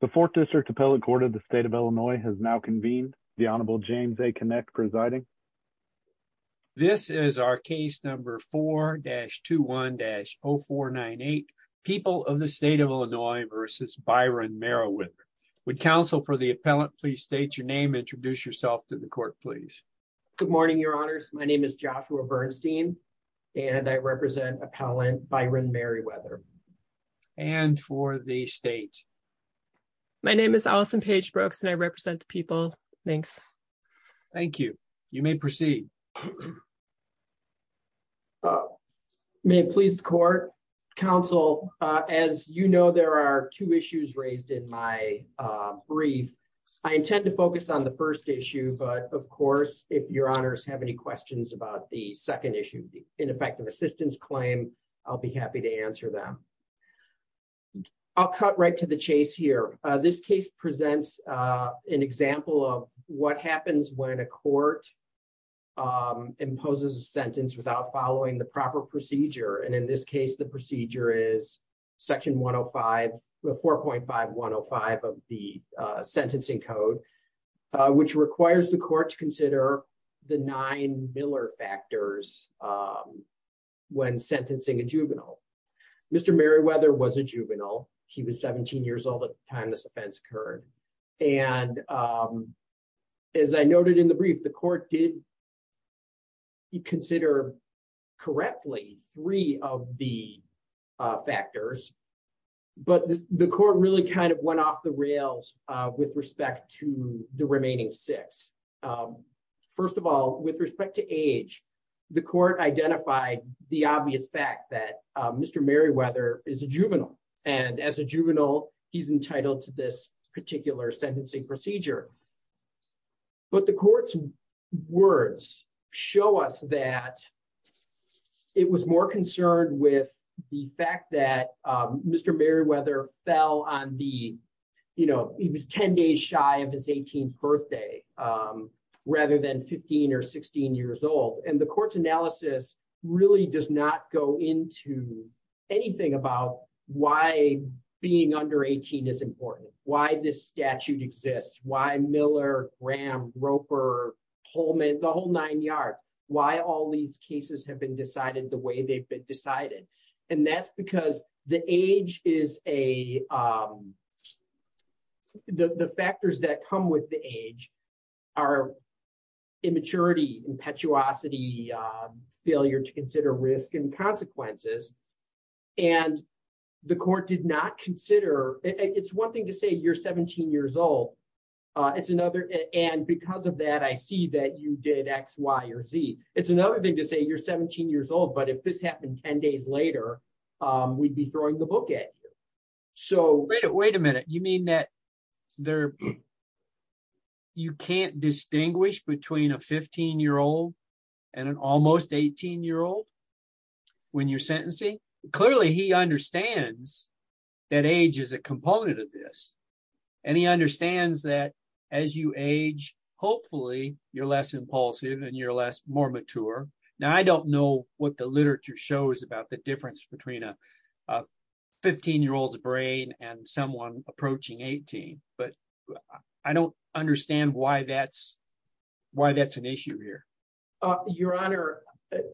The Fourth District Appellate Court of the State of Illinois has now convened. The Honorable James A. Kinect presiding. This is our case number 4-21-0498, People of the State of Illinois v. Byron Merriweather. Would counsel for the appellant please state your name and introduce yourself to the court please. Good morning, your honors. My name is Joshua Bernstein and I represent appellant Byron Merriweather. And for the state. My name is Allison Paige Brooks and I represent the people. Thanks. Thank you. You may proceed. May it please the court. Counsel, as you know, there are two issues raised in my brief. I intend to focus on the first issue, but of course, if your honors have any questions about the second issue, the ineffective assistance claim. I'll be happy to answer them. I'll cut right to the chase here. This case presents an example of what happens when a court imposes a sentence without following the proper procedure. And in this case, the procedure is section 105, 4.5105 of the sentencing code, which requires the court to consider the nine Miller factors when sentencing a juvenile. Mr. Merriweather was a juvenile. He was 17 years old at the time this offense occurred. And as I noted in the brief, the court did consider correctly three of the factors. But the court really kind of went off the rails with respect to the remaining six. First of all, with respect to age, the court identified the obvious fact that Mr. Merriweather is a juvenile. And as a juvenile, he's entitled to this particular sentencing procedure. But the court's words show us that it was more concerned with the fact that Mr. Merriweather fell on the, you know, he was 10 days shy of his 18th birthday, rather than 15 or 16 years old. And the court's analysis really does not go into anything about why being under 18 is important, why this statute exists, why Miller, Graham, Roper, Holman, the whole nine yard, why all these cases have been decided the way they've been decided. And that's because the age is a, the factors that come with the age are immaturity, impetuosity, failure to consider risk and consequences. And the court did not consider, it's one thing to say you're 17 years old. It's another, and because of that I see that you did X, Y, or Z. It's another thing to say you're 17 years old but if this happened 10 days later, we'd be throwing the book at you. So wait a minute, you mean that you can't distinguish between a 15 year old and an almost 18 year old when you're sentencing? Clearly he understands that age is a component of this. And he understands that as you age, hopefully you're less impulsive and you're less, more mature. Now I don't know what the literature shows about the difference between a 15 year old's brain and someone approaching 18, but I don't understand why that's, why that's an issue here. Your Honor,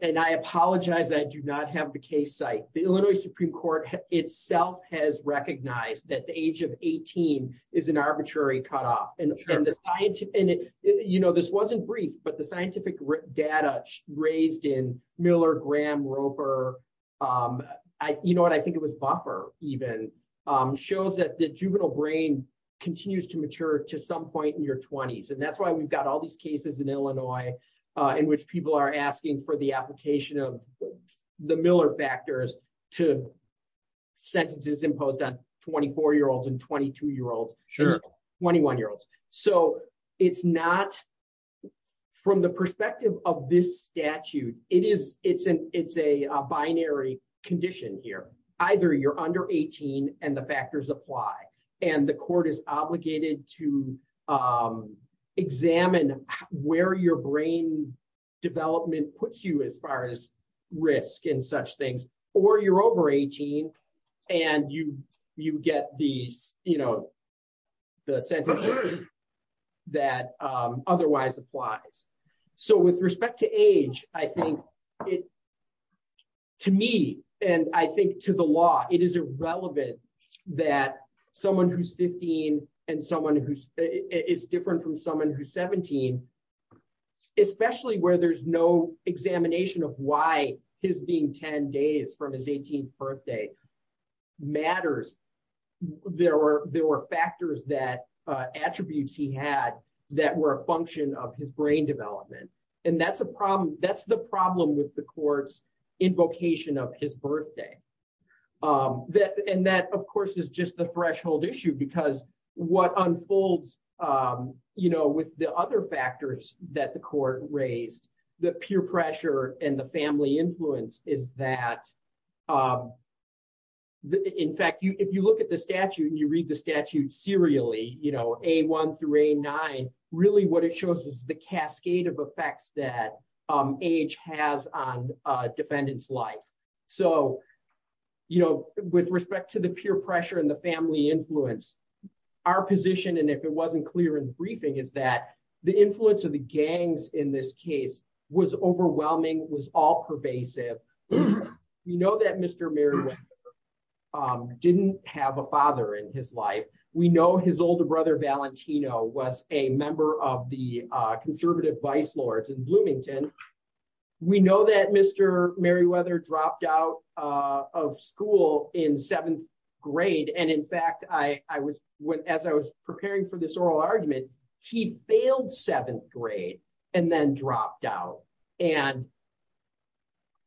and I apologize, I do not have the case site. The Illinois Supreme Court itself has recognized that the age of 18 is an arbitrary cutoff. And you know, this wasn't brief, but the scientific data raised in Miller, Graham, Roper, you know what, I think it was Buffer even, shows that the juvenile brain continues to mature to some point in your 20s. And that's why we've got all these cases in Illinois in which people are asking for the application of the Miller factors to sentences imposed on 24 year olds and 22 year olds, 21 year olds. So it's not, from the perspective of this statute, it's a binary condition here. Either you're under 18 and the factors apply and the court is obligated to examine where your brain development puts you as far as risk and such things, or you're over 18 and you get these, you know, the sentences. That otherwise applies. So with respect to age, I think it, to me, and I think to the law, it is irrelevant that someone who's 15 and someone who is different from someone who's 17, especially where there's no examination of why his being 10 days from his 18th birthday matters. There were factors that, attributes he had that were a function of his brain development. And that's the problem with the court's invocation of his birthday. And that, of course, is just the threshold issue because what unfolds, you know, with the other factors that the court raised, the peer pressure and the family influence is that, in fact, if you look at the statute and you read the statute serially, you know, A1 through A9, really what it shows is the cascade of effects that age has on a defendant's life. So, you know, with respect to the peer pressure and the family influence, our position, and if it wasn't clear in the briefing, is that the influence of the gangs in this case was overwhelming, was all pervasive. We know that Mr. Merriweather didn't have a father in his life. We know his older brother, Valentino, was a member of the conservative vice lords in Bloomington. We know that Mr. Merriweather dropped out of school in seventh grade, and in fact, as I was preparing for this oral argument, he failed seventh grade and then dropped out. And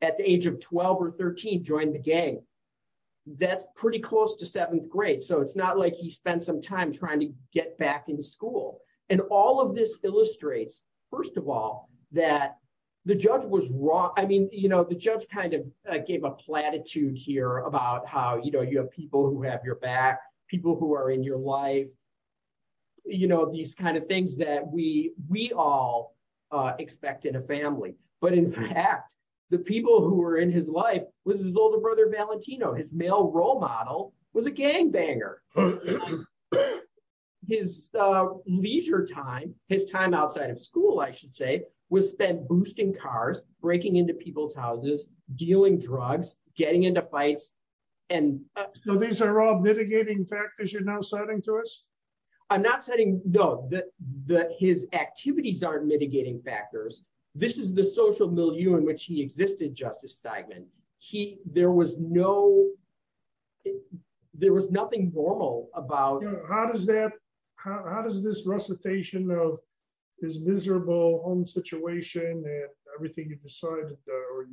at the age of 12 or 13, joined the gang. That's pretty close to seventh grade, so it's not like he spent some time trying to get back in school. And all of this illustrates, first of all, that the judge was wrong. I mean, you know, the judge kind of gave a platitude here about how, you know, you have people who have your back, people who are in your life, you know, these kind of things that we all expect in a family. But in fact, the people who were in his life was his older brother, Valentino. His male role model was a gangbanger. His leisure time, his time outside of school, I should say, was spent boosting cars, breaking into people's houses, dealing drugs, getting into fights. So these are all mitigating factors you're now citing to us? I'm not citing, no, that his activities aren't mitigating factors. This is the social milieu in which he existed, Justice Steigman. He, there was no, there was nothing normal about. How does that, how does this recitation of his miserable home situation and everything you've decided or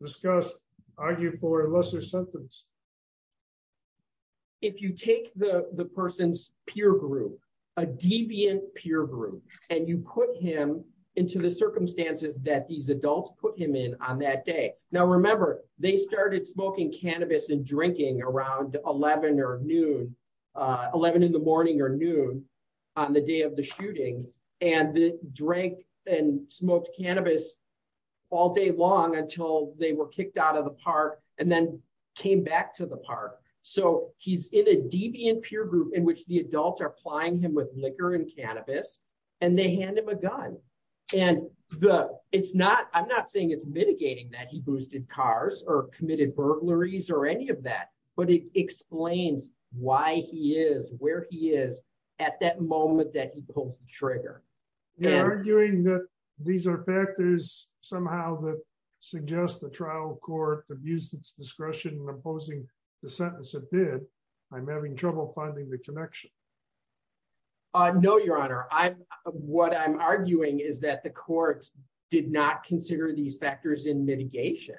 discussed argue for a lesser sentence? If you take the person's peer group, a deviant peer group, and you put him into the circumstances that these adults put him in on that day. Now remember, they started smoking cannabis and drinking around 11 or noon, 11 in the morning or noon on the day of the shooting. And they drank and smoked cannabis all day long until they were kicked out of the park and then came back to the park. So he's in a deviant peer group in which the adults are plying him with liquor and cannabis, and they hand him a gun. And it's not, I'm not saying it's mitigating that he boosted cars or committed burglaries or any of that, but it explains why he is where he is at that moment that he pulls the trigger. You're arguing that these are factors somehow that suggest the trial court abused its discretion in imposing the sentence it did. I'm having trouble finding the connection. No, Your Honor. What I'm arguing is that the court did not consider these factors in mitigation.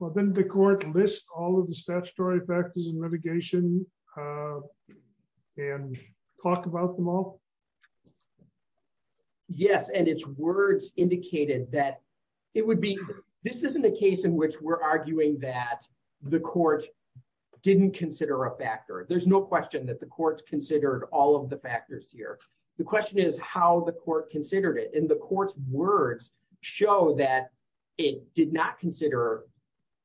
Well, then the court lists all of the statutory factors in mitigation and talk about them all? Yes, and its words indicated that it would be, this isn't a case in which we're arguing that the court didn't consider a factor. There's no question that the court considered all of the factors here. The question is how the court considered it. And the court's words show that it did not consider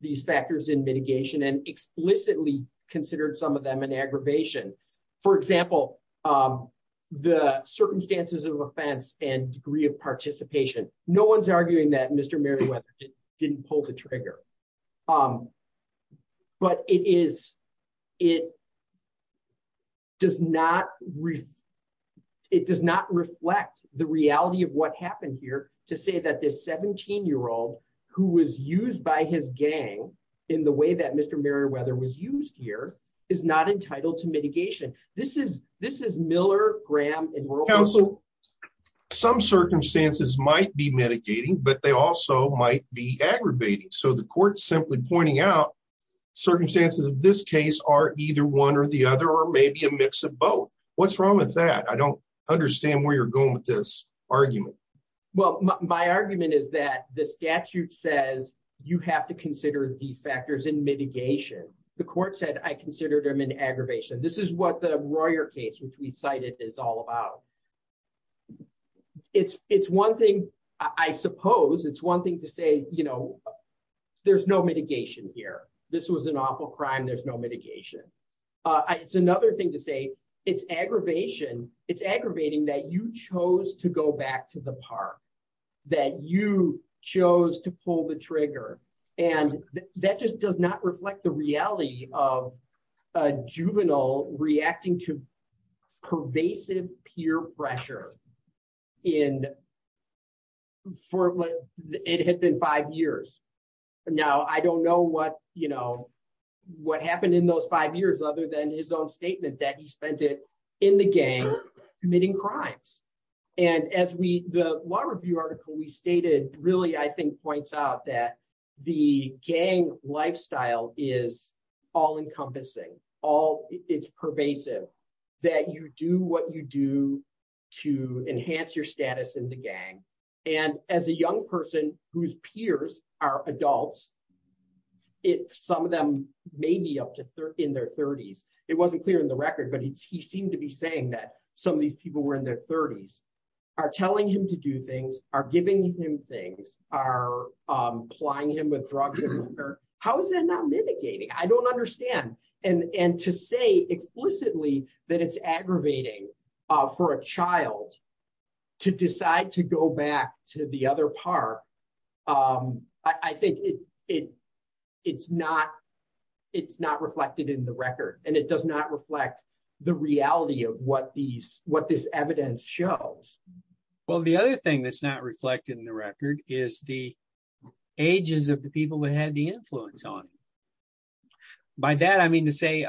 these factors in mitigation and explicitly considered some of them an aggravation. For example, the circumstances of offense and degree of participation. No one's arguing that Mr. Merriweather didn't pull the trigger. But it does not reflect the reality of what happened here to say that this 17-year-old who was used by his gang in the way that Mr. Merriweather was used here is not entitled to mitigation. Counsel, some circumstances might be mitigating, but they also might be aggravating. So the court's simply pointing out circumstances of this case are either one or the other or maybe a mix of both. What's wrong with that? I don't understand where you're going with this argument. Well, my argument is that the statute says you have to consider these factors in mitigation. The court said I considered them an aggravation. This is what the Royer case, which we cited, is all about. It's one thing, I suppose, it's one thing to say there's no mitigation here. This was an awful crime. There's no mitigation. It's another thing to say it's aggravating that you chose to go back to the park, that you chose to pull the trigger. And that just does not reflect the reality of a juvenile reacting to pervasive peer pressure for what it had been five years. Now, I don't know what happened in those five years other than his own statement that he spent it in the gang committing crimes. And as the law review article we stated really, I think, points out that the gang lifestyle is all encompassing, it's pervasive, that you do what you do to enhance your status in the gang. And as a young person whose peers are adults, some of them may be in their 30s. It wasn't clear in the record, but he seemed to be saying that some of these people were in their 30s, are telling him to do things, are giving him things, are applying him with drugs. How is that not mitigating? I don't understand. And to say explicitly that it's aggravating for a child to decide to go back to the other park, I think it's not reflected in the record, and it does not reflect the reality of what this evidence shows. Well, the other thing that's not reflected in the record is the ages of the people that had the influence on him. By that I mean to say,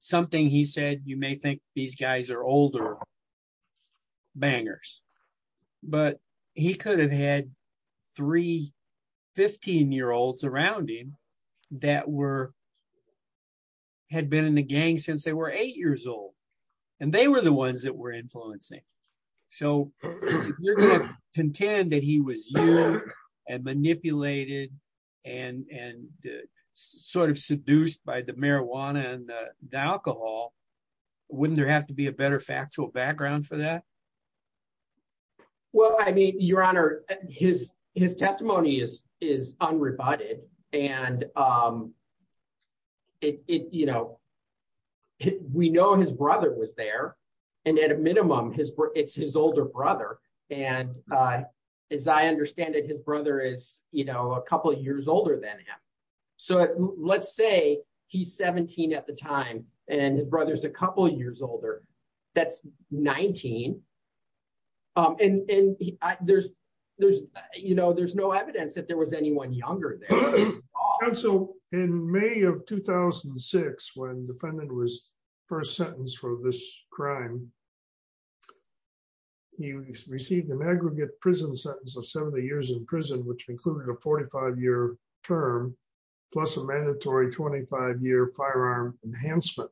something he said, you may think these guys are older bangers, but he could have had three 15-year-olds around him that had been in the gang since they were eight years old, and they were the ones that were influencing. So if you're going to contend that he was used and manipulated and sort of seduced by the marijuana and the alcohol, wouldn't there have to be a better factual background for that? Well, I mean, Your Honor, his testimony is unrebutted, and we know his brother was there, and at a minimum, it's his older brother. And as I understand it, his brother is a couple years older than him. So let's say he's 17 at the time, and his brother's a couple years older. That's 19. And there's no evidence that there was anyone younger there. So in May of 2006, when the defendant was first sentenced for this crime, he received an aggregate prison sentence of 70 years in prison, which included a 45-year term, plus a mandatory 25-year firearm enhancement.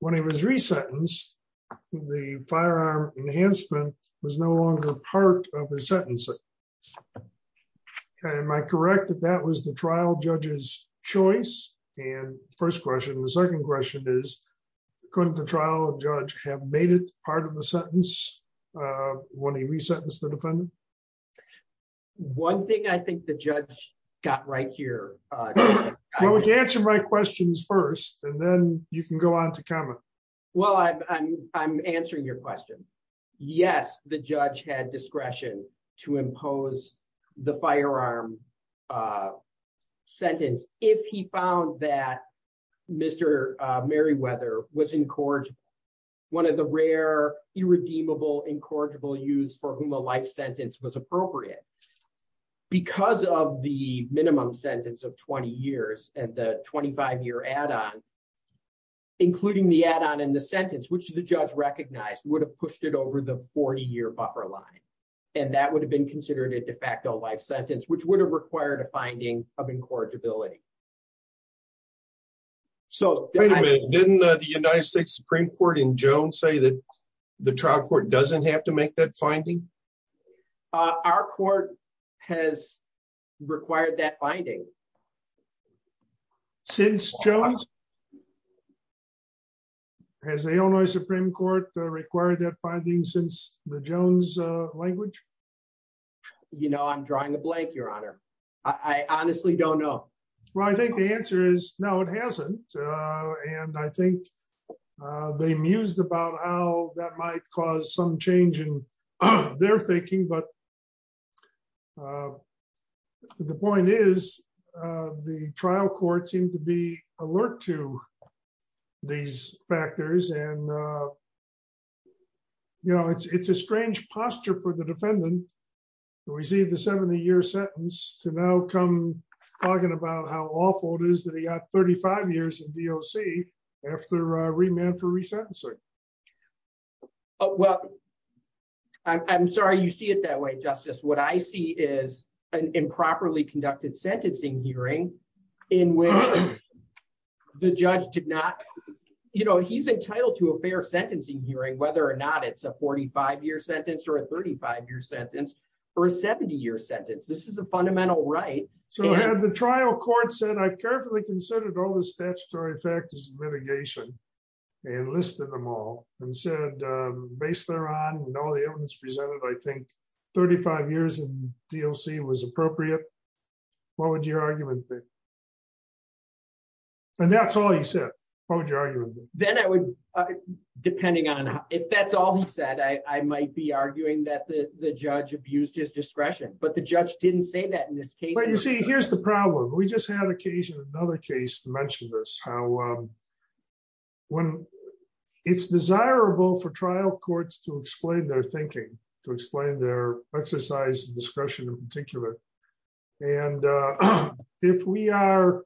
When he was resentenced, the firearm enhancement was no longer part of his sentencing. Am I correct that that was the trial judge's choice? And the first question, the second question is, couldn't the trial judge have made it part of the sentence when he resentenced the defendant? One thing I think the judge got right here. Answer my questions first, and then you can go on to comment. Well, I'm answering your question. Yes, the judge had discretion to impose the firearm sentence if he found that Mr. Merriweather was one of the rare, irredeemable, incorrigible youths for whom a life sentence was appropriate. Because of the minimum sentence of 20 years and the 25-year add-on, including the add-on in the sentence, which the judge recognized would have pushed it over the 40-year buffer line, and that would have been considered a de facto life sentence, which would have required a finding of incorrigibility. Wait a minute, didn't the United States Supreme Court in Jones say that the trial court doesn't have to make that finding? Our court has required that finding. Since Jones? Has the Illinois Supreme Court required that finding since the Jones language? You know, I'm drawing a blank, Your Honor. I honestly don't know. Well, I think the answer is no, it hasn't. And I think they mused about how that might cause some change in their thinking. But the point is, the trial court seemed to be alert to these factors. And, you know, it's a strange posture for the defendant to receive the 70-year sentence to now come talking about how awful it is that he got 35 years in D.O.C. after remand for resentencing. Well, I'm sorry you see it that way, Justice. What I see is an improperly conducted sentencing hearing in which the judge did not, you know, he's entitled to a fair sentencing hearing, whether or not it's a 45-year sentence or a 35-year sentence or a 70-year sentence. This is a fundamental right. So the trial court said, I carefully considered all the statutory factors of mitigation and listed them all and said, based on all the evidence presented, I think 35 years in D.O.C. was appropriate. What would your argument be? And that's all he said. What would your argument be? Then I would, depending on if that's all he said, I might be arguing that the judge abused his discretion. But the judge didn't say that in this case. Well, you see, here's the problem. We just had occasion in another case to mention this, how when it's desirable for trial courts to explain their thinking, to explain their exercise of discretion in particular. And if we are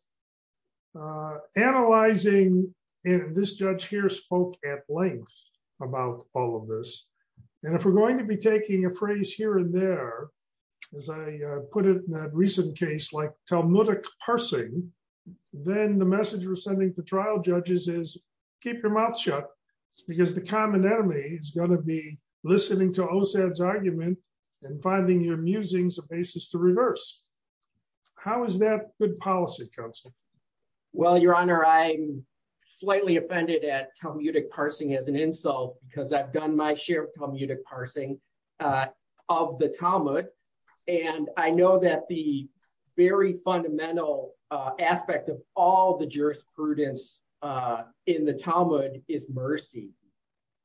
analyzing, and this judge here spoke at length about all of this, and if we're going to be taking a phrase here and there, as I put it in a recent case like Talmudic parsing, then the message we're sending to trial judges is keep your mouth shut, because the common enemy is going to be listening to OSAD's argument and finding your musings a basis to reason. How is that good policy, Counsel? Well, Your Honor, I'm slightly offended at Talmudic parsing as an insult, because I've done my share of Talmudic parsing of the Talmud. And I know that the very fundamental aspect of all the jurisprudence in the Talmud is mercy.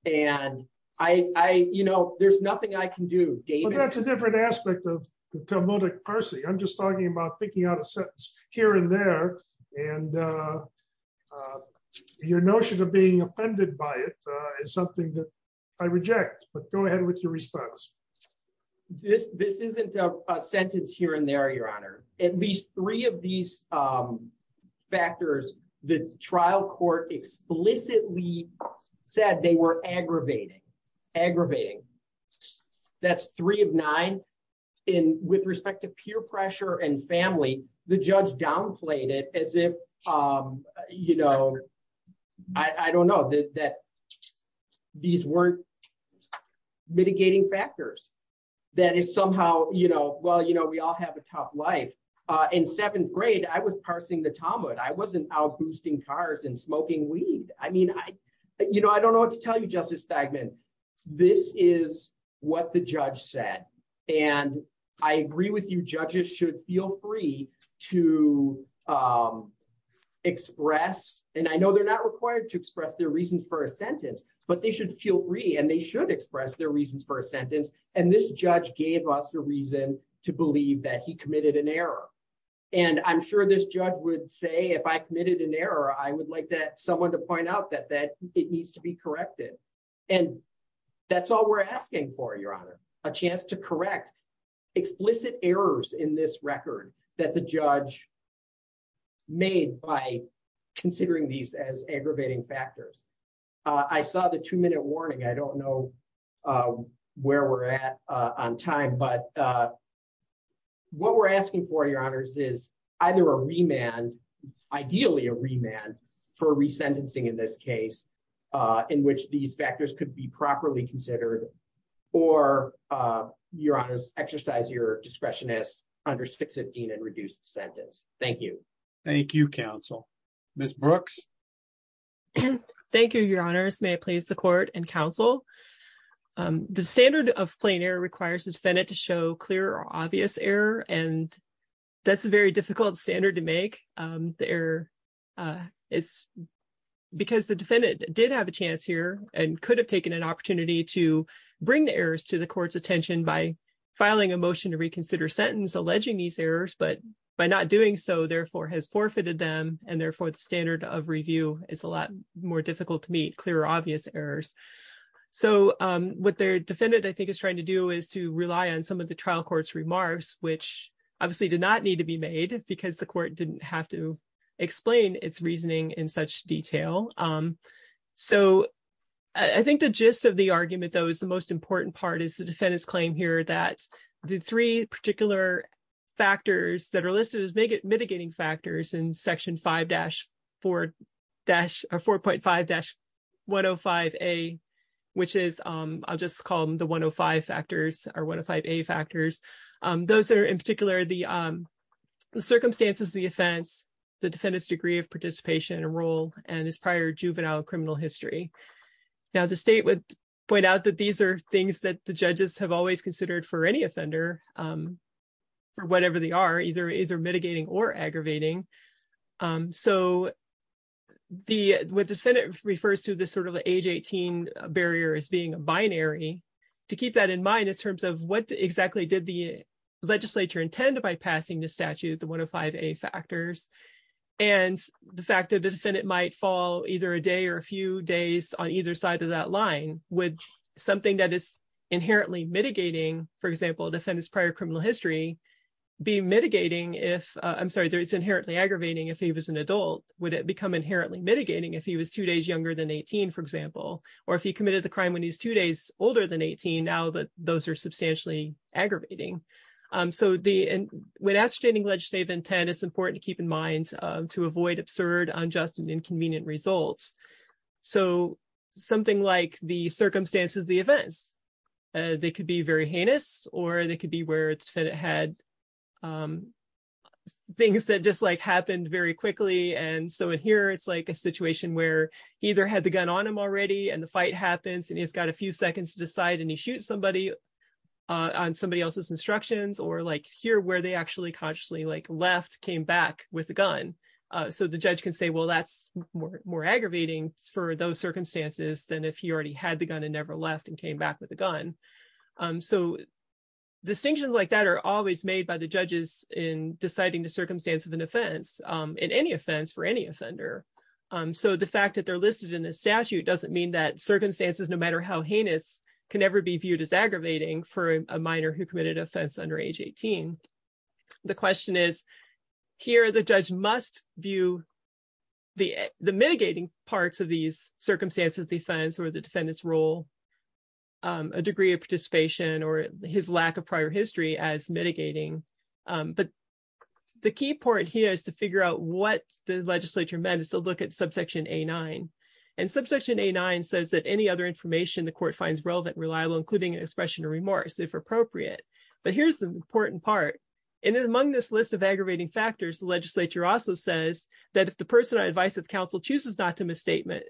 And I, you know, there's nothing I can do. That's a different aspect of the Talmudic parsing. I'm just talking about picking out a sentence here and there. And your notion of being offended by it is something that I reject, but go ahead with your response. This isn't a sentence here and there, Your Honor. At least three of these factors, the trial court explicitly said they were aggravating. Aggravating. That's three of nine. And with respect to peer pressure and family, the judge downplayed it as if, you know, I don't know, that these weren't mitigating factors. That is somehow, you know, well, you know, we all have a tough life. In seventh grade, I was parsing the Talmud. I wasn't out boosting cars and smoking weed. I mean, I, you know, I don't know what to tell you, Justice Stegman. This is what the judge said. And I agree with you. Judges should feel free to express, and I know they're not required to express their reasons for a sentence, but they should feel free and they should express their reasons for a sentence. And this judge gave us a reason to believe that he committed an error. And I'm sure this judge would say, if I committed an error, I would like someone to point out that it needs to be corrected. And that's all we're asking for, Your Honor. A chance to correct explicit errors in this record that the judge made by considering these as aggravating factors. I saw the two-minute warning. I don't know where we're at on time, but what we're asking for, Your Honors, is either a remand, ideally a remand, for resentencing in this case, in which these factors could be properly considered, or, Your Honors, exercise your discretion as under 615 and reduce the sentence. Thank you. Thank you, Counsel. Ms. Brooks? Thank you, Your Honors. May I please the Court and Counsel? The standard of plain error requires the defendant to show clear or obvious error, and that's a very difficult standard to make. The error is because the defendant did have a chance here and could have taken an opportunity to bring the errors to the Court's attention by filing a motion to reconsider sentence alleging these errors, but by not doing so, therefore, has forfeited them, and therefore, the standard of review is a lot more difficult to meet, clear or obvious errors. So what the defendant, I think, is trying to do is to rely on some of the trial court's remarks, which obviously did not need to be made because the court didn't have to explain its reasoning in such detail. So I think the gist of the argument, though, is the most important part is the defendant's claim here that the three particular factors that are listed as mitigating factors in Section 5-4-4.5-105A, which is, I'll just call them the 105 factors or 105A factors. Those are, in particular, the circumstances of the offense, the defendant's degree of participation and role, and his prior juvenile criminal history. Now, the State would point out that these are things that the judges have always considered for any offender, for whatever they are, either mitigating or aggravating. So what the defendant refers to this sort of the age 18 barrier as being a binary, to keep that in mind in terms of what exactly did the legislature intend by passing this statute, the 105A factors, and the fact that the defendant might fall either a day or a few days on either side of that line, would something that is inherently mitigating, for example, the defendant's prior criminal history, be mitigating if, I'm sorry, it's inherently aggravating if he was an adult? Would it become inherently mitigating if he was two days younger than 18, for example? Or if he committed the crime when he's two days older than 18, now that those are substantially aggravating? So when ascertaining legislative intent, it's important to keep in mind to avoid absurd, unjust, and inconvenient results. So something like the circumstances of the offense, they could be very heinous, or they could be where the defendant had things that just happened very quickly. And so in here, it's like a situation where he either had the gun on him already, and the fight happens, and he's got a few seconds to decide, and he shoots somebody on somebody else's instructions, or here where they actually consciously left, came back with a gun. So the judge can say, well, that's more aggravating for those circumstances than if he already had the gun and never left and came back with a gun. So distinctions like that are always made by the judges in deciding the circumstance of an offense, in any offense for any offender. So the fact that they're listed in the statute doesn't mean that circumstances, no matter how heinous, can ever be viewed as aggravating for a minor who committed an offense under age 18. The question is, here the judge must view the mitigating parts of these circumstances, the offense or the defendant's role, a degree of participation, or his lack of prior history as mitigating. But the key part here is to figure out what the legislature meant is to look at subsection A9. And subsection A9 says that any other information the court finds relevant and reliable, including an expression of remorse, if appropriate. But here's the important part. And among this list of aggravating factors, the legislature also says that if the person on advice of counsel chooses not to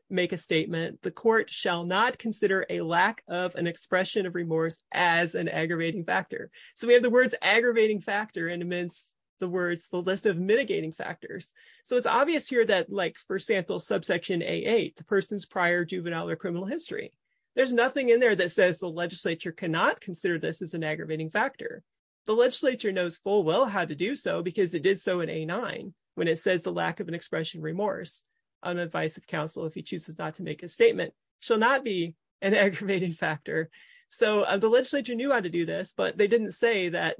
make a statement, the court shall not consider a lack of an expression of remorse as an aggravating factor. So we have the words aggravating factor and amidst the words, the list of mitigating factors. So it's obvious here that, like, for example, subsection A8, the person's prior juvenile or criminal history. There's nothing in there that says the legislature cannot consider this as an aggravating factor. The legislature knows full well how to do so because it did so in A9 when it says the lack of an expression of remorse on advice of counsel if he chooses not to make a statement shall not be an aggravating factor. So the legislature knew how to do this, but they didn't say that,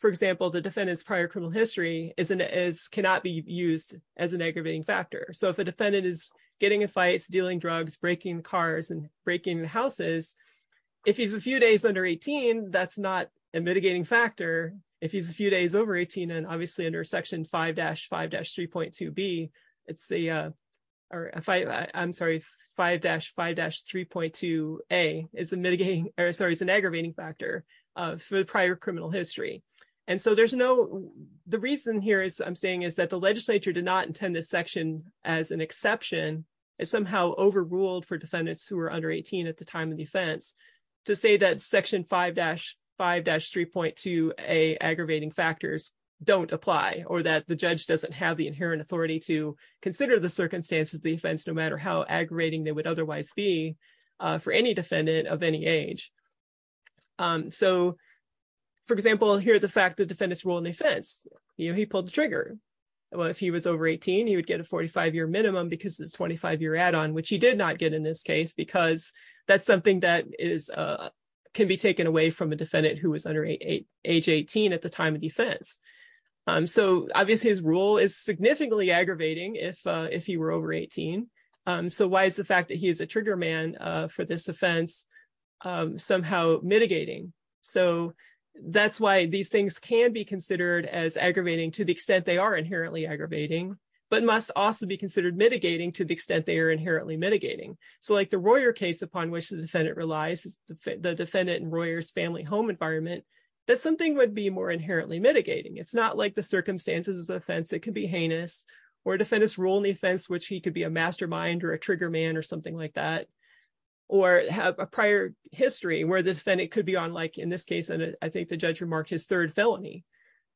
for example, the defendant's prior criminal history cannot be used as an aggravating factor. So if a defendant is getting in fights, dealing drugs, breaking cars, and breaking houses, if he's a few days under 18, that's not a mitigating factor. If he's a few days over 18, and obviously under section 5-5-3.2B, it's the, I'm sorry, 5-5-3.2A is a mitigating, sorry, is an aggravating factor for the prior criminal history. And so there's no, the reason here is I'm saying is that the legislature did not intend this section as an exception. It's somehow overruled for defendants who are under 18 at the time of the offense to say that section 5-5-3.2A aggravating factors don't apply or that the judge doesn't have the inherent authority to consider the circumstances of the offense no matter how aggravating they would otherwise be for any defendant of any age. So, for example, here, the fact that defendants rule in the offense, you know, he pulled the trigger. Well, if he was over 18, he would get a 45-year minimum because the 25-year add-on, which he did not get in this case, because that's something that is, can be taken away from a defendant who was under age 18 at the time of defense. So, obviously, his rule is significantly aggravating if he were over 18. So why is the fact that he is a trigger man for this offense somehow mitigating? So that's why these things can be considered as aggravating to the extent they are inherently aggravating, but must also be considered mitigating to the extent they are inherently mitigating. So, like the Royer case, upon which the defendant relies, the defendant and Royer's family home environment, that something would be more inherently mitigating. It's not like the circumstances of the offense that can be heinous or defendants rule in the offense, which he could be a mastermind or a trigger man or something like that, or have a prior history where the defendant could be on, like, in this case, I think the judge remarked his third felony.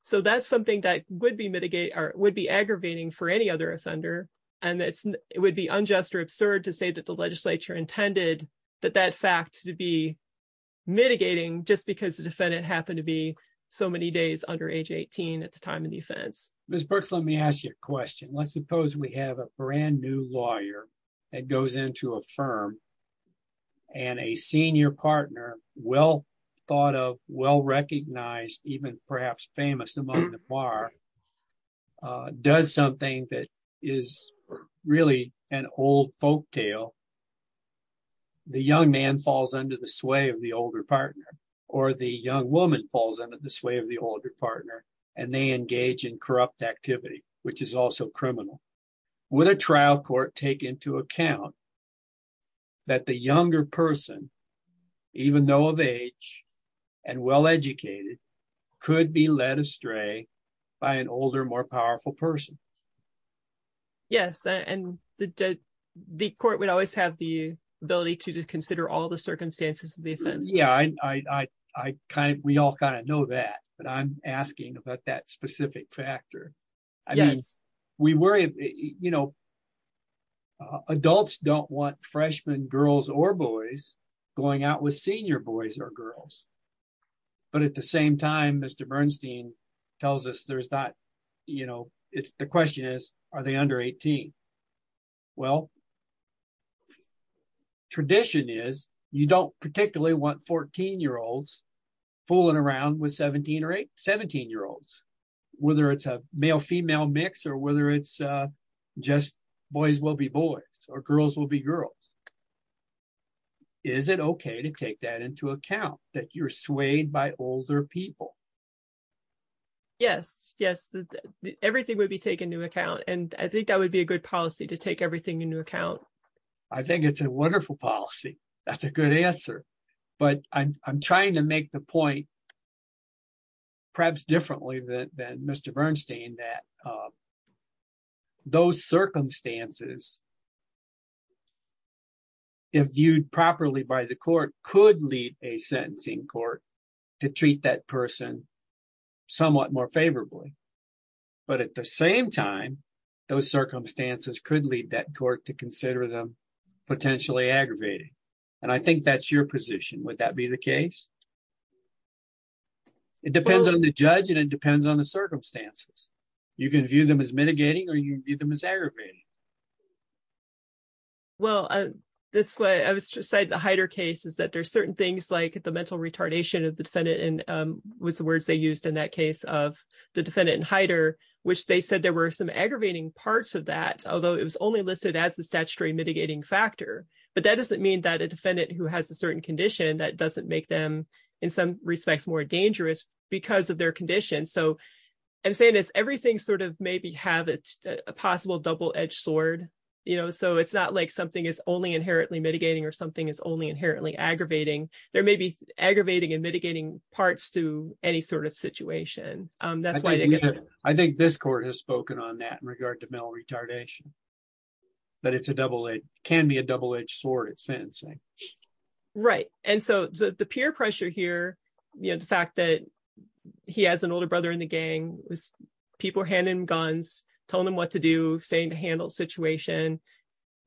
So that's something that would be aggravating for any other offender, and it would be unjust or absurd to say that the legislature intended that that fact to be mitigating just because the defendant happened to be so many days under age 18 at the time of the offense. Ms. Brooks, let me ask you a question. Let's suppose we have a brand new lawyer that goes into a firm and a senior partner, well thought of, well recognized, even perhaps famous among the bar, does something that is really an old folk tale. The young man falls under the sway of the older partner, or the young woman falls under the sway of the older partner, and they engage in corrupt activity, which is also criminal. Would a trial court take into account that the younger person, even though of age and well educated, could be led astray by an older, more powerful person. Yes, and the court would always have the ability to consider all the circumstances of the offense. Yeah, we all kind of know that, but I'm asking about that specific factor. Yes, we worry, you know, adults don't want freshmen girls or boys going out with senior boys or girls. But at the same time, Mr. Bernstein tells us there's not, you know, it's the question is, are they under 18? Well, tradition is you don't particularly want 14 year olds fooling around with 17 or 17 year olds, whether it's a male female mix or whether it's just boys will be boys or girls will be girls. Is it okay to take that into account that you're swayed by older people? Yes, yes, everything would be taken into account. And I think that would be a good policy to take everything into account. I think it's a wonderful policy. That's a good answer. But I'm trying to make the point perhaps differently than Mr. Bernstein that those circumstances, if viewed properly by the court, could lead a sentencing court to treat that person somewhat more favorably. But at the same time, those circumstances could lead that court to consider them potentially aggravated. And I think that's your position. Would that be the case? It depends on the judge and it depends on the circumstances. You can view them as mitigating or you view them as aggravating. Well, that's what I said, the Heider case is that there's certain things like the mental retardation of the defendant and was the words they used in that case of the defendant in Heider, which they said there were some aggravating parts of that, although it was only listed as a statutory mitigating factor. But that doesn't mean that a defendant who has a certain condition that doesn't make them in some respects more dangerous because of their condition. So I'm saying is everything sort of maybe have a possible double edged sword. You know, so it's not like something is only inherently mitigating or something is only inherently aggravating. There may be aggravating and mitigating parts to any sort of situation. I think this court has spoken on that in regard to mental retardation. But it's a double, it can be a double edged sword at sentencing. Right. And so the peer pressure here, the fact that he has an older brother in the gang, people handing him guns, telling him what to do, saying to handle the situation.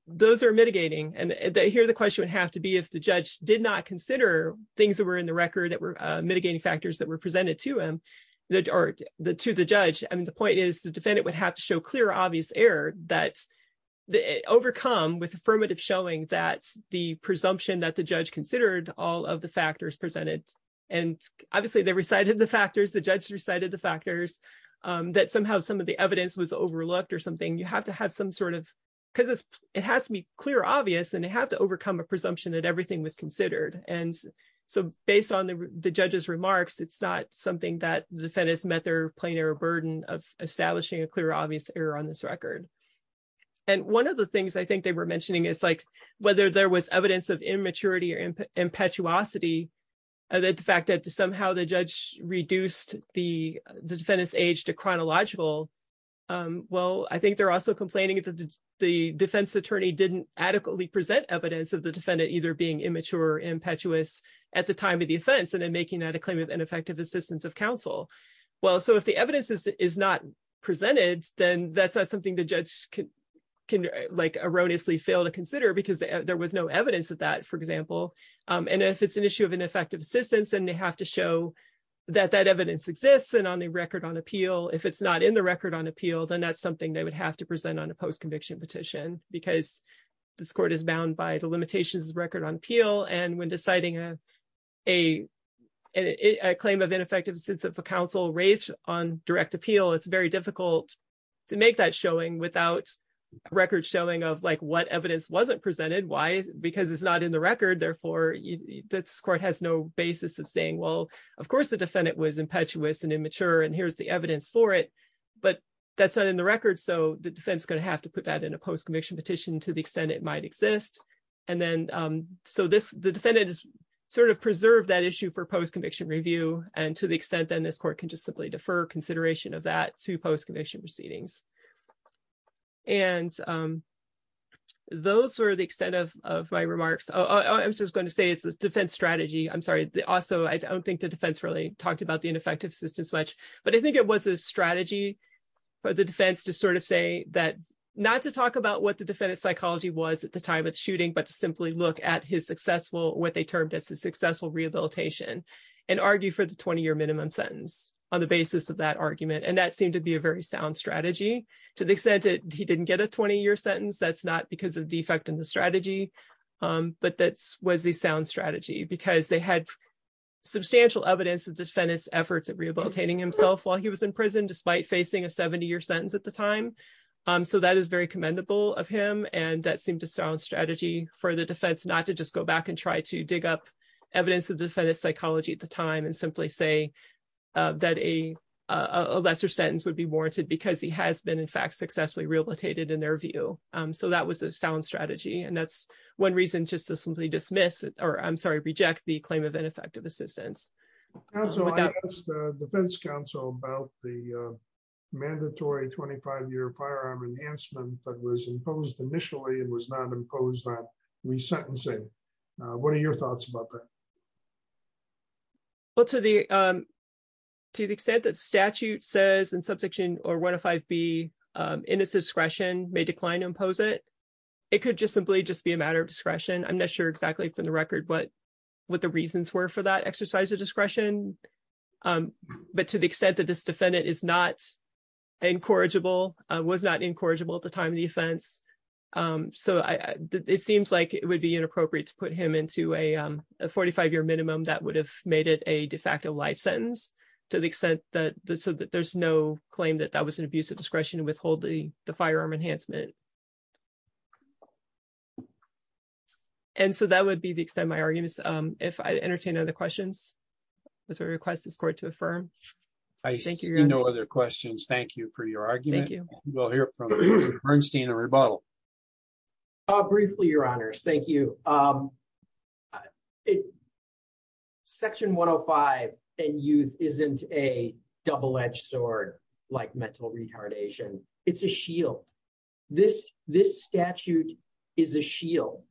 Those are mitigating. And here the question would have to be if the judge did not consider things that were in the record that were mitigating factors that were presented to him or to the judge. I mean, the point is the defendant would have to show clear, obvious error that overcome with affirmative showing that the presumption that the judge considered all of the factors presented. And obviously they recited the factors, the judge recited the factors that somehow some of the evidence was overlooked or something. You have to have some sort of, because it has to be clear, obvious, and they have to overcome a presumption that everything was considered. And so based on the judge's remarks, it's not something that the defendants met their plain error burden of establishing a clear, obvious error on this record. And one of the things I think they were mentioning is like whether there was evidence of immaturity or impetuosity, the fact that somehow the judge reduced the defendant's age to chronological. Well, I think they're also complaining that the defense attorney didn't adequately present evidence of the defendant either being immature or impetuous at the time of the offense and then making that a claim of ineffective assistance of counsel. Well, so if the evidence is not presented, then that's not something the judge can erroneously fail to consider because there was no evidence of that, for example. And if it's an issue of ineffective assistance, then they have to show that that evidence exists and on a record on appeal. If it's not in the record on appeal, then that's something they would have to present on a post-conviction petition because this court is bound by the limitations of the record on appeal. And when deciding a claim of ineffective assistance of counsel raised on direct appeal, it's very difficult to make that showing without record showing of like what evidence wasn't presented. Why? Because it's not in the record. Therefore, this court has no basis of saying, well, of course, the defendant was impetuous and immature and here's the evidence for it. But that's not in the record. So the defense is going to have to put that in a post-conviction petition to the extent it might exist. And then so this the defendant is sort of preserve that issue for post-conviction review. And to the extent then this court can just simply defer consideration of that to post-conviction proceedings. And those are the extent of my remarks. I'm just going to say it's a defense strategy. I'm sorry. Also, I don't think the defense really talked about the ineffective assistance much, but I think it was a strategy. For the defense to sort of say that not to talk about what the defendant's psychology was at the time of the shooting, but to simply look at his successful what they termed as a successful rehabilitation and argue for the 20 year minimum sentence on the basis of that argument. And that seemed to be a very sound strategy to the extent that he didn't get a 20 year sentence. That's not because of defect in the strategy. But that was a sound strategy because they had substantial evidence of the defendant's efforts at rehabilitating himself while he was in prison, despite facing a 70 year sentence at the time. So that is very commendable of him. And that seemed to sound strategy for the defense not to just go back and try to dig up evidence of the defendant's psychology at the time and simply say that a lesser sentence would be warranted because he has been in fact successfully rehabilitated in their view. So that was a sound strategy. And that's one reason just to simply dismiss it, or I'm sorry, reject the claim of ineffective assistance. I asked the defense counsel about the mandatory 25 year firearm enhancement that was imposed initially and was not imposed on resentencing. What are your thoughts about that? Well, to the extent that statute says in Subsection 105B, indiscretion may decline to impose it. It could just simply just be a matter of discretion. I'm not sure exactly from the record what the reasons were for that exercise of discretion. But to the extent that this defendant is not incorrigible, was not incorrigible at the time of the offense. So it seems like it would be inappropriate to put him into a 45 year minimum that would have made it a de facto life sentence to the extent that there's no claim that that was an abuse of discretion to withhold the firearm enhancement. And so that would be the extent of my arguments. If I entertain other questions, I request the court to affirm. I see no other questions. Thank you for your argument. We'll hear from Bernstein and Rebuttal. Briefly, Your Honors. Thank you. Section 105 and youth isn't a double edged sword like mental retardation. It's a shield. This statute is a shield.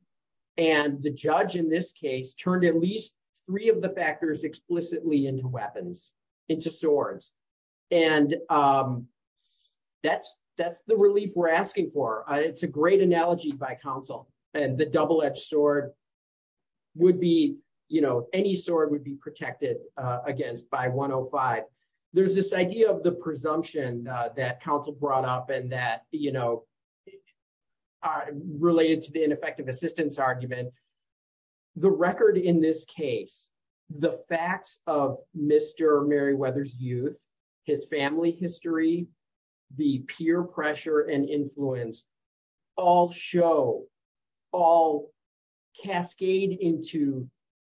And the judge in this case turned at least three of the factors explicitly into weapons, into swords. And that's that's the relief we're asking for. It's a great analogy by counsel and the double edged sword would be, you know, any sword would be protected against by 105. There's this idea of the presumption that counsel brought up and that, you know, related to the ineffective assistance argument. The record in this case, the facts of Mr. Merriweather's youth, his family history, the peer pressure and influence all show all cascade into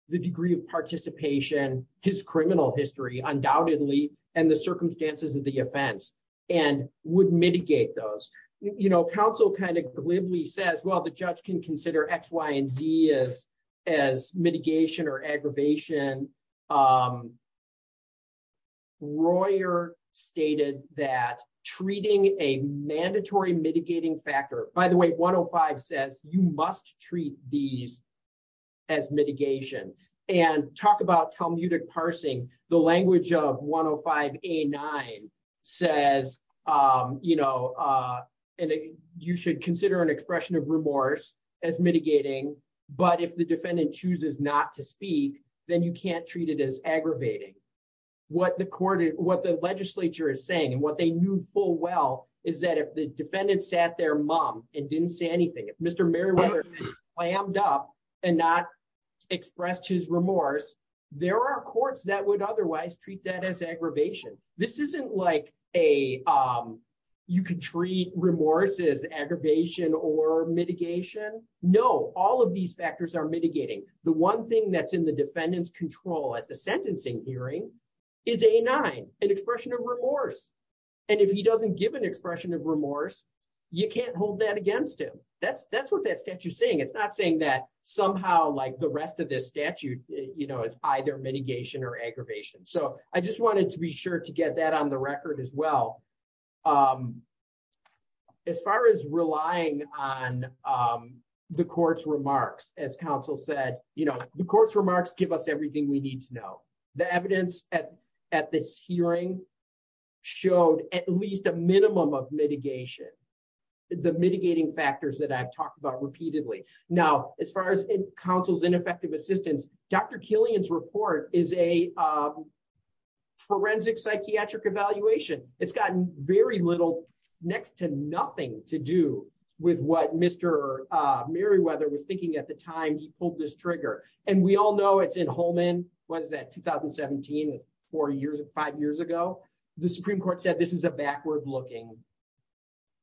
the degree of participation, his criminal history, undoubtedly, and the circumstances of the offense and would mitigate those. You know, counsel kind of glibly says, well, the judge can consider X, Y and Z as as mitigation or aggravation. Royer stated that treating a mandatory mitigating factor, by the way, one of five says you must treat these as mitigation and talk about Talmudic parsing the language of 105 A9 says, you know, and you should consider an expression of remorse as mitigating. But if the defendant chooses not to speak, then you can't treat it as aggravating. What the court is what the legislature is saying and what they knew full well is that if the defendant sat there mom and didn't say anything, if Mr. Merriweather slammed up and not expressed his remorse, there are courts that would otherwise treat that as aggravation. This isn't like a, you can treat remorse as aggravation or mitigation. No, all of these factors are mitigating. The one thing that's in the defendant's control at the sentencing hearing is a nine, an expression of remorse. And if he doesn't give an expression of remorse. You can't hold that against him. That's, that's what that statue saying it's not saying that somehow like the rest of this statute, you know, it's either mitigation or aggravation. So I just wanted to be sure to get that on the record as well. As far as relying on the court's remarks, as counsel said, you know, the court's remarks give us everything we need to know the evidence at at this hearing showed at least a minimum of mitigation. The mitigating factors that I've talked about repeatedly. Now, as far as counsel's ineffective assistance, Dr Killian's report is a forensic psychiatric evaluation, it's gotten very little next to nothing to do with what Mr. At the time he pulled this trigger, and we all know it's in Holman was that 2017 was four years and five years ago, the Supreme Court said this is a backward looking.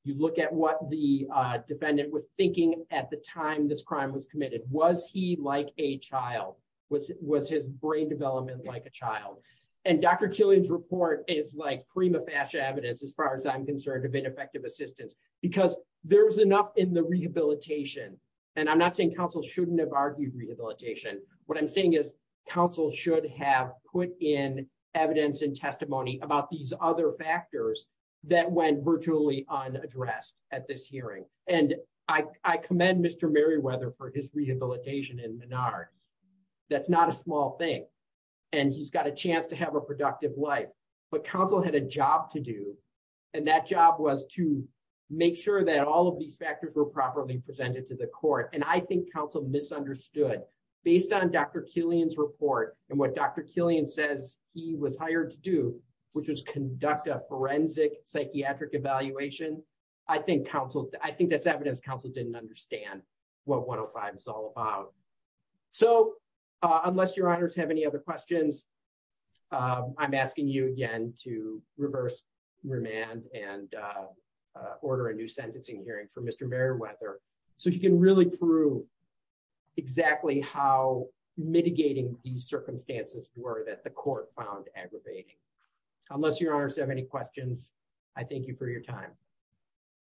You look at what the defendant was thinking, at the time this crime was committed was he like a child was, was his brain development like a child, and Dr Killian's report is like prima facie evidence as far as I'm concerned have been effective assistance, because there's enough in the rehabilitation. And I'm not saying counsel shouldn't have argued rehabilitation. What I'm saying is, counsel should have put in evidence and testimony about these other factors that went virtually on address at this hearing, and I commend Mr Merriweather for his rehabilitation in Menard. That's not a small thing. And he's got a chance to have a productive life, but counsel had a job to do. And that job was to make sure that all of these factors were properly presented to the court and I think counsel misunderstood, based on Dr Killian's report, and what Dr Killian says he was didn't understand what one of five is all about. So, unless your honors have any other questions. I'm asking you again to reverse remand and order a new sentencing hearing for Mr Merriweather, so you can really prove exactly how mitigating the circumstances were that the court found aggravating, unless your honors have any questions. I thank you for your time.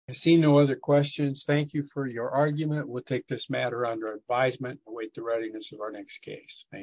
I see no other questions. Thank you for your argument. We'll take this matter under advisement and await the readiness of our next case. Thank you.